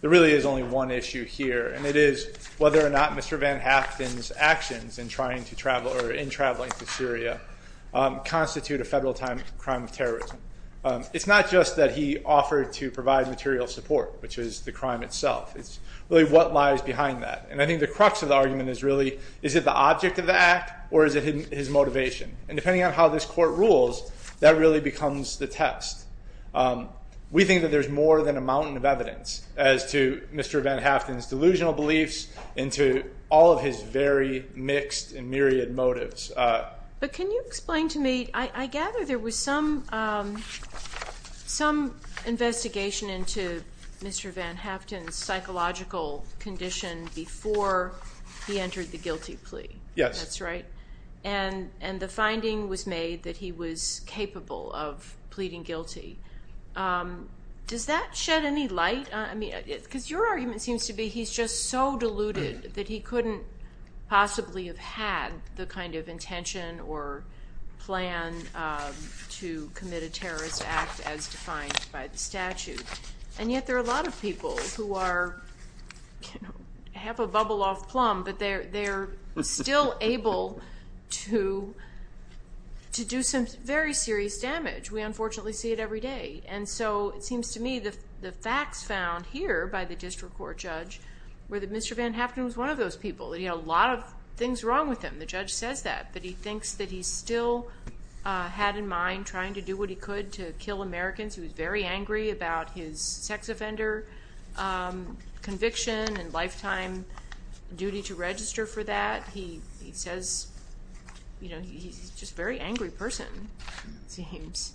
There really is only one issue here and it is whether or not Mr. Van Haften's actions in traveling to Syria constitute a federal time crime of terrorism. It is not just that he offered to provide material support, which is the crime itself, it is really what lies behind that and I think the crux of the argument is really is it the object of the act or is it his motivation and depending on how this court rules that really becomes the test. We think that there is more than a mountain of evidence as to Mr. Van Haften's delusional beliefs and to all of his very mixed and myriad motives. But can you explain to me, I gather there was some investigation into Mr. Van Haften's psychological condition before he entered the guilty plea. Yes. That's right. And the finding was made that he was capable of pleading guilty. Does that shed any light? Because your argument seems to be he's just so deluded that he couldn't possibly have had the kind of intention or plan to commit a terrorist act as defined by the statute. And yet there are a lot of people who are half a bubble off plum but they're still able to do some very serious damage. We unfortunately see it every day and so it seems to me the facts found here by the district court judge were that Mr. Van Haften was one of those people. He had a lot of things wrong with him, the judge says that, but he thinks that he still had in mind trying to do what he could to kill Americans. He was very angry about his sex offender conviction and lifetime duty to register for that. He says he's just a very angry person it seems.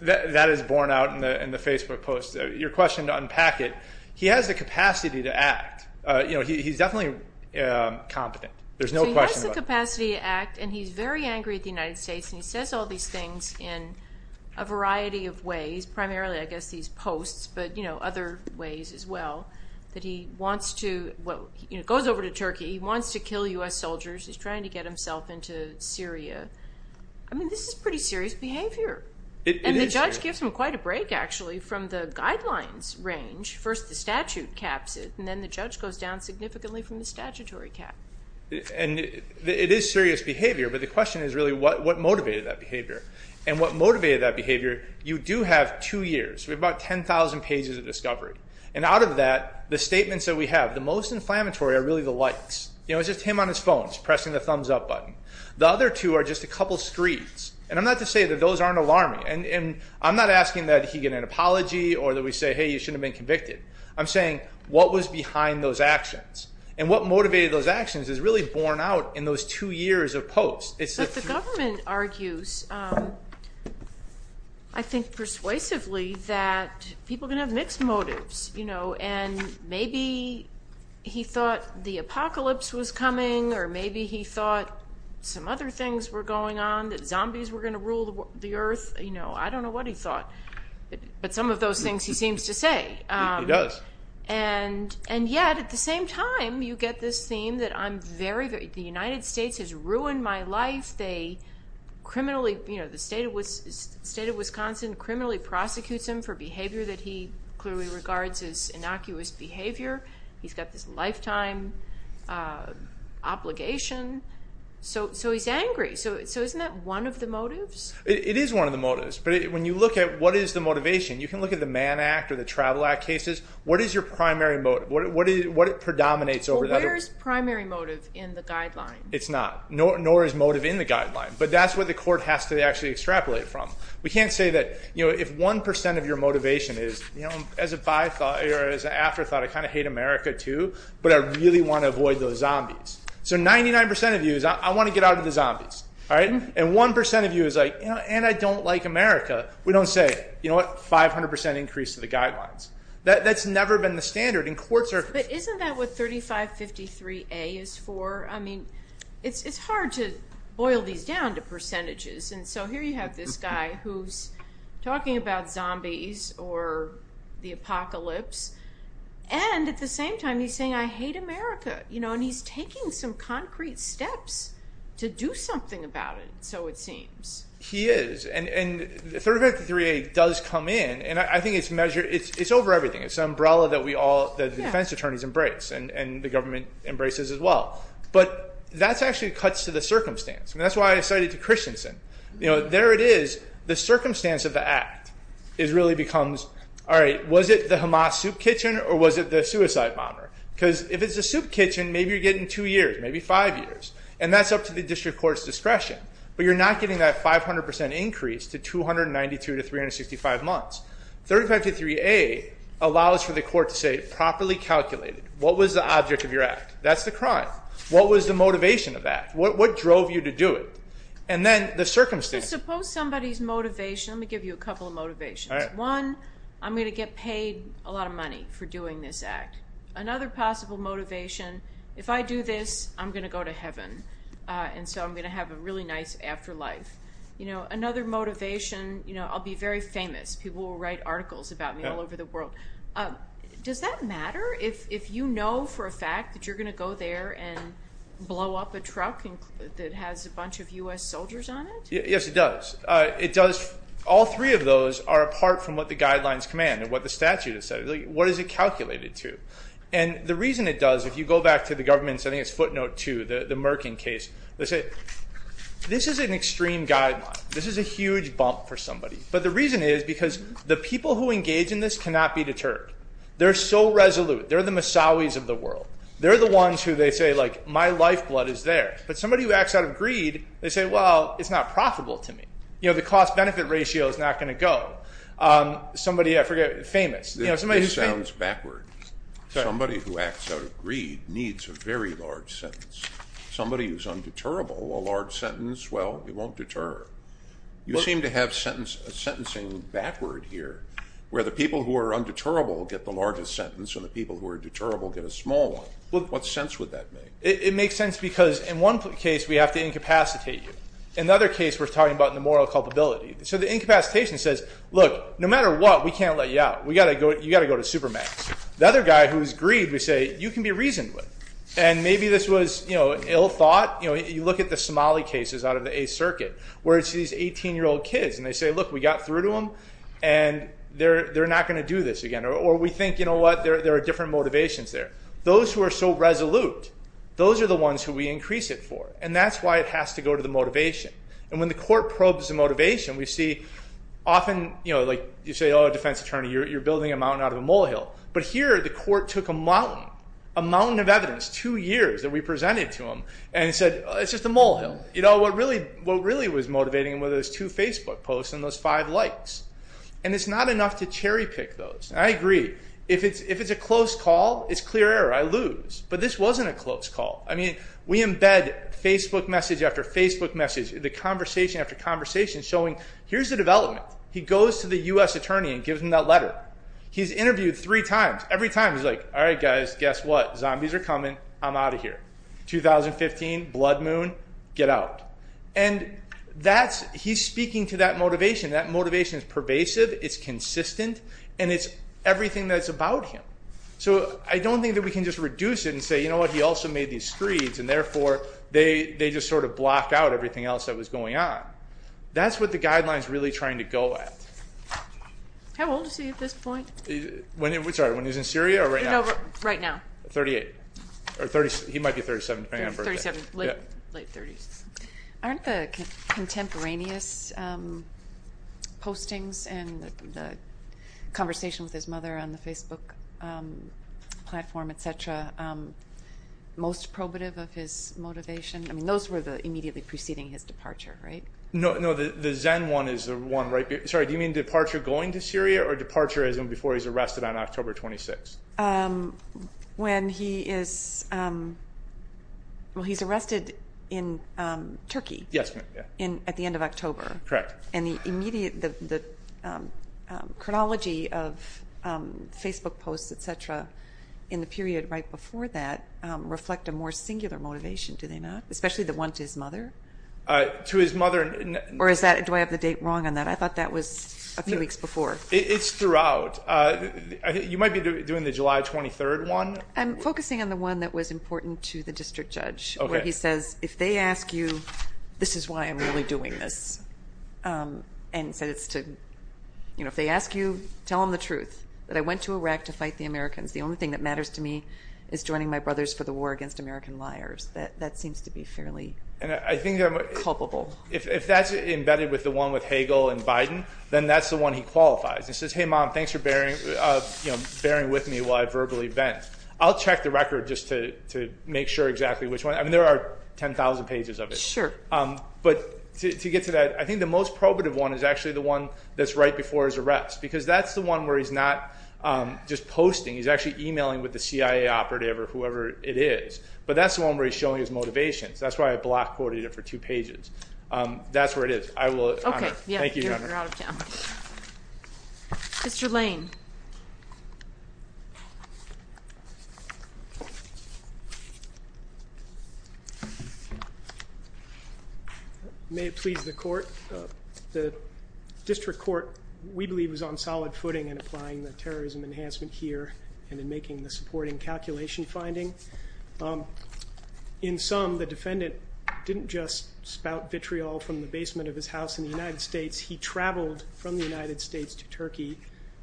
That is borne out in the Facebook post. Your question to unpack it, he has the capacity to act. He's definitely competent. There's no question about it. He has the capacity to act and he's very angry at the United States and he says all these things in a variety of ways, primarily I guess these posts, but other ways as well. He goes over to Turkey, he wants to kill U.S. soldiers, he's trying to get himself into Syria. This is pretty serious behavior. And the judge gives him quite a break actually from the guidelines range. First the statute caps it and then the judge goes down significantly from the statutory cap. It is serious behavior but the question is really what motivated that behavior. And what motivated that behavior, you do have two years. We have about 10,000 pages of discovery. And out of that, the statements that we have, the most inflammatory are really the likes. It's just him on his phone pressing the thumbs up button. The other two are just a couple screams. And I'm not to say that those aren't alarming. And I'm not asking that he get an apology or that we say hey you shouldn't have been convicted. I'm saying what was behind those actions. And what motivated those actions is really borne out in those two years of posts. But the government argues I think persuasively that people can have mixed motives. And maybe he thought the apocalypse was coming or maybe he thought some other things were going on, that zombies were going to rule the earth. I don't know what he thought. But some of those things he seems to say. And yet at the same time you get this theme that the United States has ruined my life. The state of Wisconsin criminally prosecutes him for behavior that he clearly regards as innocuous behavior. He's got this lifetime obligation. So he's angry. So isn't that one of the motives? It is one of the motives. But when you look at what is the motivation, you can look at the Mann Act or the Travel Act cases. What is your primary motive? What predominates over the other ones? Well where is primary motive in the guideline? It's not. Nor is motive in the guideline. But that's what the court has to actually extrapolate from. We can't say that if 1% of your motivation is as an afterthought I kind of hate America too, but I really want to avoid those zombies. So 99% of you is I want to get out of the zombies. And 1% of you is like and I don't like America. We don't say 500% increase to the guidelines. That's never been the standard in court circuits. But isn't that what 3553A is for? I mean it's hard to boil these down to percentages. And so here you have this guy who's talking about zombies or the apocalypse. And at the same time he's saying I hate America. And he's taking some concrete steps to do something about it so it seems. He is. And 3553A does come in. And I think it's over everything. It's an umbrella that the defense attorneys embrace and the government embraces as well. But that actually cuts to the circumstance. And that's why I cited to Christensen. There it is. The circumstance of the act really becomes was it the Hamas soup kitchen or was it the suicide bomber? Because if it's a soup kitchen maybe you're getting two years, maybe five years. And that's up to the district court's discretion. But you're not getting that 500% increase to 292 to 365 months. 3553A allows for the court to say properly calculated. What was the object of your act? That's the crime. What was the motivation of that? What drove you to do it? And then the circumstance. Suppose somebody's motivation. Let me give you a couple of motivations. One, I'm going to get paid a lot of money for doing this act. Another possible motivation, if I do this I'm going to go to heaven. And so I'm going to have a really nice afterlife. Another motivation, I'll be very famous. People will write articles about me all over the world. Does that matter if you know for a fact that you're going to go there and blow up a truck that has a bunch of U.S. soldiers on it? Yes, it does. It does. All three of those are apart from what the guidelines command and what the statute has said. What is it calculated to? And the reason it does, if you go back to the government's, I think it's footnote two, the Merkin case, they say this is an extreme guideline. This is a huge bump for somebody. But the reason is because the people who engage in this cannot be deterred. They're so resolute. They're the Messaouis of the world. They're the ones who they say, like, my lifeblood is there. But somebody who acts out of greed, they say, well, it's not profitable to me. The cost benefit ratio is not going to go. Somebody, I forget, famous. This sounds backward. Somebody who acts out of greed needs a very large sentence. Somebody who's undeterrable, a large sentence, well, it won't deter. You seem to have sentencing backward here, where the people who are undeterrable get the largest sentence and the people who are deterrable get a small one. What sense would that make? It makes sense because in one case, we have to incapacitate you. In another case, we're talking about the moral culpability. So the incapacitation says, look, no matter what, we can't let you out. You've got to go to supermax. The other guy who's greed, we say, you can be reasoned with. And maybe this was ill thought. You look at the Somali cases out of the Eighth Circuit, where it's these 18-year-old kids, and they say, look, we got through to them, and they're not going to do this again. Or we think, you know what, there are different motivations there. Those who are so resolute, those are the ones who we increase it for. And that's why it has to go to the motivation. And when the court probes the motivation, we see often, you know, like you say, oh, a defense attorney, you're building a mountain out of a molehill. But here, the court took a mountain, a mountain of evidence, two years that we presented to them, and said, it's just a molehill. You know, what really was motivating was those two Facebook posts and those five likes. And it's not enough to cherry pick those. And I agree, if it's a close call, it's clear error. I lose. But this wasn't a close call. I mean, we embed Facebook message after Facebook message, the conversation after conversation, showing, here's the development. He goes to the U.S. attorney and gives him that letter. He's interviewed three times. Every time, he's like, all right, guys, guess what? Zombies are coming. I'm out of here. 2015, blood moon, get out. And that's, he's speaking to that motivation. That motivation is pervasive, it's consistent, and it's everything that's about him. So I don't think that we can just reduce it and say, you know what, he also made these screeds, and therefore, they just sort of block out everything else that was going on. That's what the guideline's really trying to go at. How old is he at this point? Sorry, when he was in Syria or right now? Right now. 38. He might be 37. 37, late 30s. Aren't the contemporaneous postings and the conversation with his mother on the Facebook platform, et cetera, most probative of his motivation? I mean, those were immediately preceding his departure, right? No, the Zen one is the one right, sorry, do you mean departure going to Syria or departure as in before he's arrested on October 26? When he is, well, he's arrested in Turkey. Yes, ma'am. At the end of October. Correct. And the immediate, the chronology of Facebook posts, et cetera, in the period right before that reflect a more singular motivation, do they not? Especially the one to his mother? To his mother. Or is that, do I have the date wrong on that? I thought that was a few weeks before. It's throughout. You might be doing the July 23rd one. I'm focusing on the one that was important to the district judge. Okay. Where he says, if they ask you, this is why I'm really doing this. And said it's to, you know, if they ask you, tell them the truth, that I went to Iraq to fight the Americans. The only thing that matters to me is joining my brothers for the war against American liars. That seems to be fairly. Culpable. If that's embedded with the one with Hagel and Biden, then that's the one he qualifies. He says, hey, mom, thanks for bearing with me while I verbally vent. I'll check the record just to make sure exactly which one. I mean, there are 10,000 pages of it. Sure. But to get to that, I think the most probative one is actually the one that's right before his arrest. Because that's the one where he's not just posting, he's actually emailing with the CIA operative or whoever it is. But that's the one where he's showing his motivations. That's why I block quoted it for two pages. That's where it is. I will. Okay. Thank you. May it please the court. The district court, we believe, is on solid footing in applying the terrorism enhancement here and in making the supporting calculation finding. In some, the defendant didn't just spout vitriol from the basement of his house in the United States. He traveled from the United States to Turkey,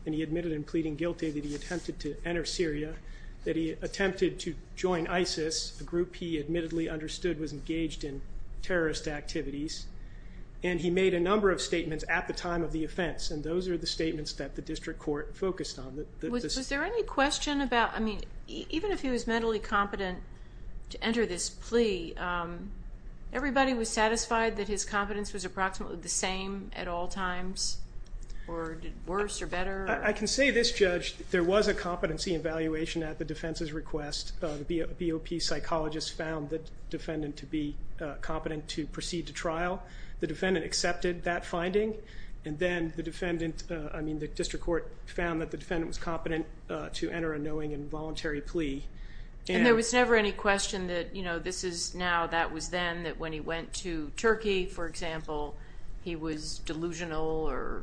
and he admitted in pleading guilty that he attempted to enter Syria, that he attempted to join ISIS, a group he admittedly understood was engaged in terrorist activities, and he made a number of statements at the time of the offense. And those are the statements that the district court focused on. Was there any question about, I mean, even if he was mentally competent to enter this plea, everybody was satisfied that his competence was approximately the same at all times, or worse or better? I can say, this judge, there was a competency evaluation at the defense's request. The BOP psychologist found the defendant to be competent to proceed to trial. The defendant accepted that finding. And then the defendant, I mean, the district court found that the defendant was competent to enter a knowing and voluntary plea. And there was never any question that, you know, this is now, that was then, that when he went to Turkey, for example, he was delusional or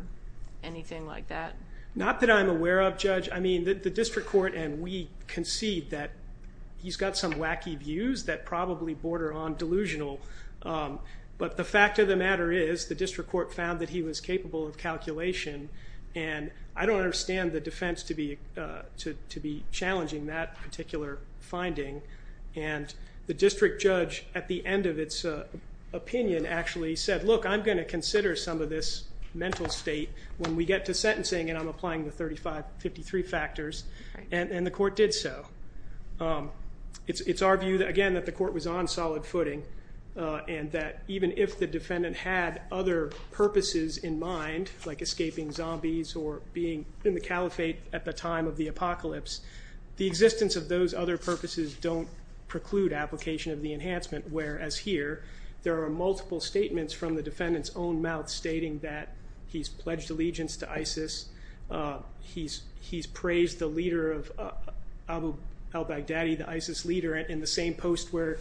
anything like that? Not that I'm aware of, Judge. I mean, the district court and we concede that he's got some wacky views that probably border on delusional. But the fact of the matter is the district court found that he was capable of calculation, and I don't understand the defense to be challenging that particular finding. And the district judge, at the end of its opinion, actually said, look, I'm going to consider some of this mental state. When we get to sentencing, and I'm applying the 35, 53 factors, and the court did so. It's our view, again, that the court was on solid footing and that even if the defendant had other purposes in mind, like escaping zombies or being in the caliphate at the time of the apocalypse, the existence of those other purposes don't preclude application of the enhancement, whereas here there are multiple statements from the defendant's own mouth stating that he's pledged allegiance to ISIS. He's praised the leader of Abu al-Baghdadi, the ISIS leader, in the same post where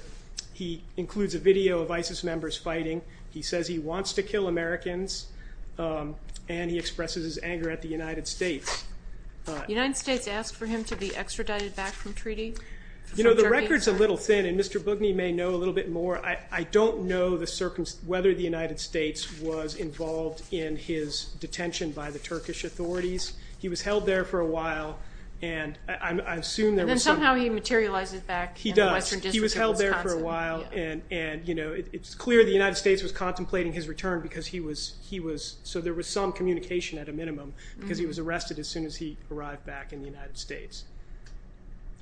he includes a video of ISIS members fighting. He says he wants to kill Americans, and he expresses his anger at the United States. The United States asked for him to be extradited back from treaty? You know, the record's a little thin, and Mr. Bugney may know a little bit more. I don't know whether the United States was involved in his detention by the Turkish authorities. He was held there for a while, and I assume there was some – And then somehow he materializes back in the Western District of Wisconsin. He does. He was held there for a while, and it's clear the United States was contemplating his return because he was – so there was some communication at a minimum because he was arrested as soon as he arrived back in the United States.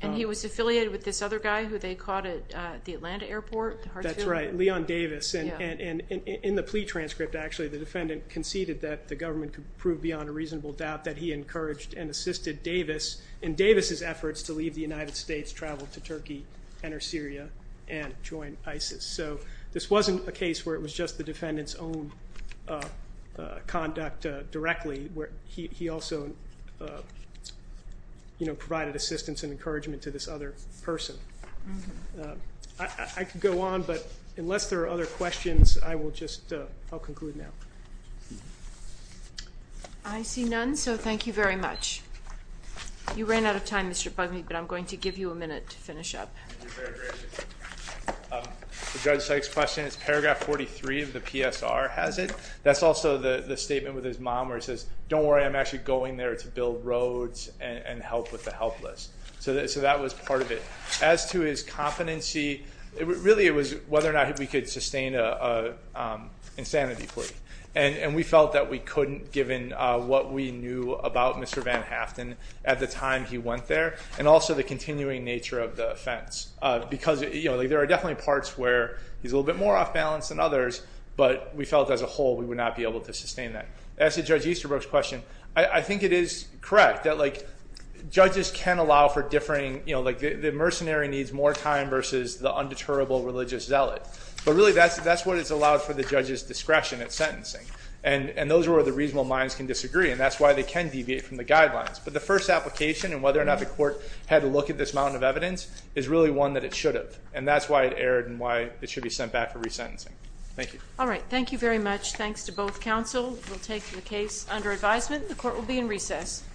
And he was affiliated with this other guy who they caught at the Atlanta airport? That's right, Leon Davis. And in the plea transcript, actually, the defendant conceded that the government could prove beyond a reasonable doubt that he encouraged and assisted Davis in Davis's efforts to leave the United States, travel to Turkey, enter Syria, and join ISIS. So this wasn't a case where it was just the defendant's own conduct directly. He also provided assistance and encouragement to this other person. I could go on, but unless there are other questions, I will just – I'll conclude now. I see none, so thank you very much. You ran out of time, Mr. Bugney, but I'm going to give you a minute to finish up. Judge Sykes' question is paragraph 43 of the PSR has it. That's also the statement with his mom where it says, don't worry, I'm actually going there to build roads and help with the helpless. So that was part of it. As to his competency, really it was whether or not we could sustain an insanity plea. And we felt that we couldn't given what we knew about Mr. Van Haften at the time he went there and also the continuing nature of the offense. Because there are definitely parts where he's a little bit more off balance than others, but we felt as a whole we would not be able to sustain that. As to Judge Easterbrook's question, I think it is correct that judges can allow for differing – the mercenary needs more time versus the undeterrable religious zealot. But really that's what is allowed for the judge's discretion at sentencing. And those are where the reasonable minds can disagree, and that's why they can deviate from the guidelines. But the first application and whether or not the court had a look at this mountain of evidence is really one that it should have. And that's why it erred and why it should be sent back for resentencing. Thank you. All right, thank you very much. Thanks to both counsel. We'll take the case under advisement. The court will be in recess.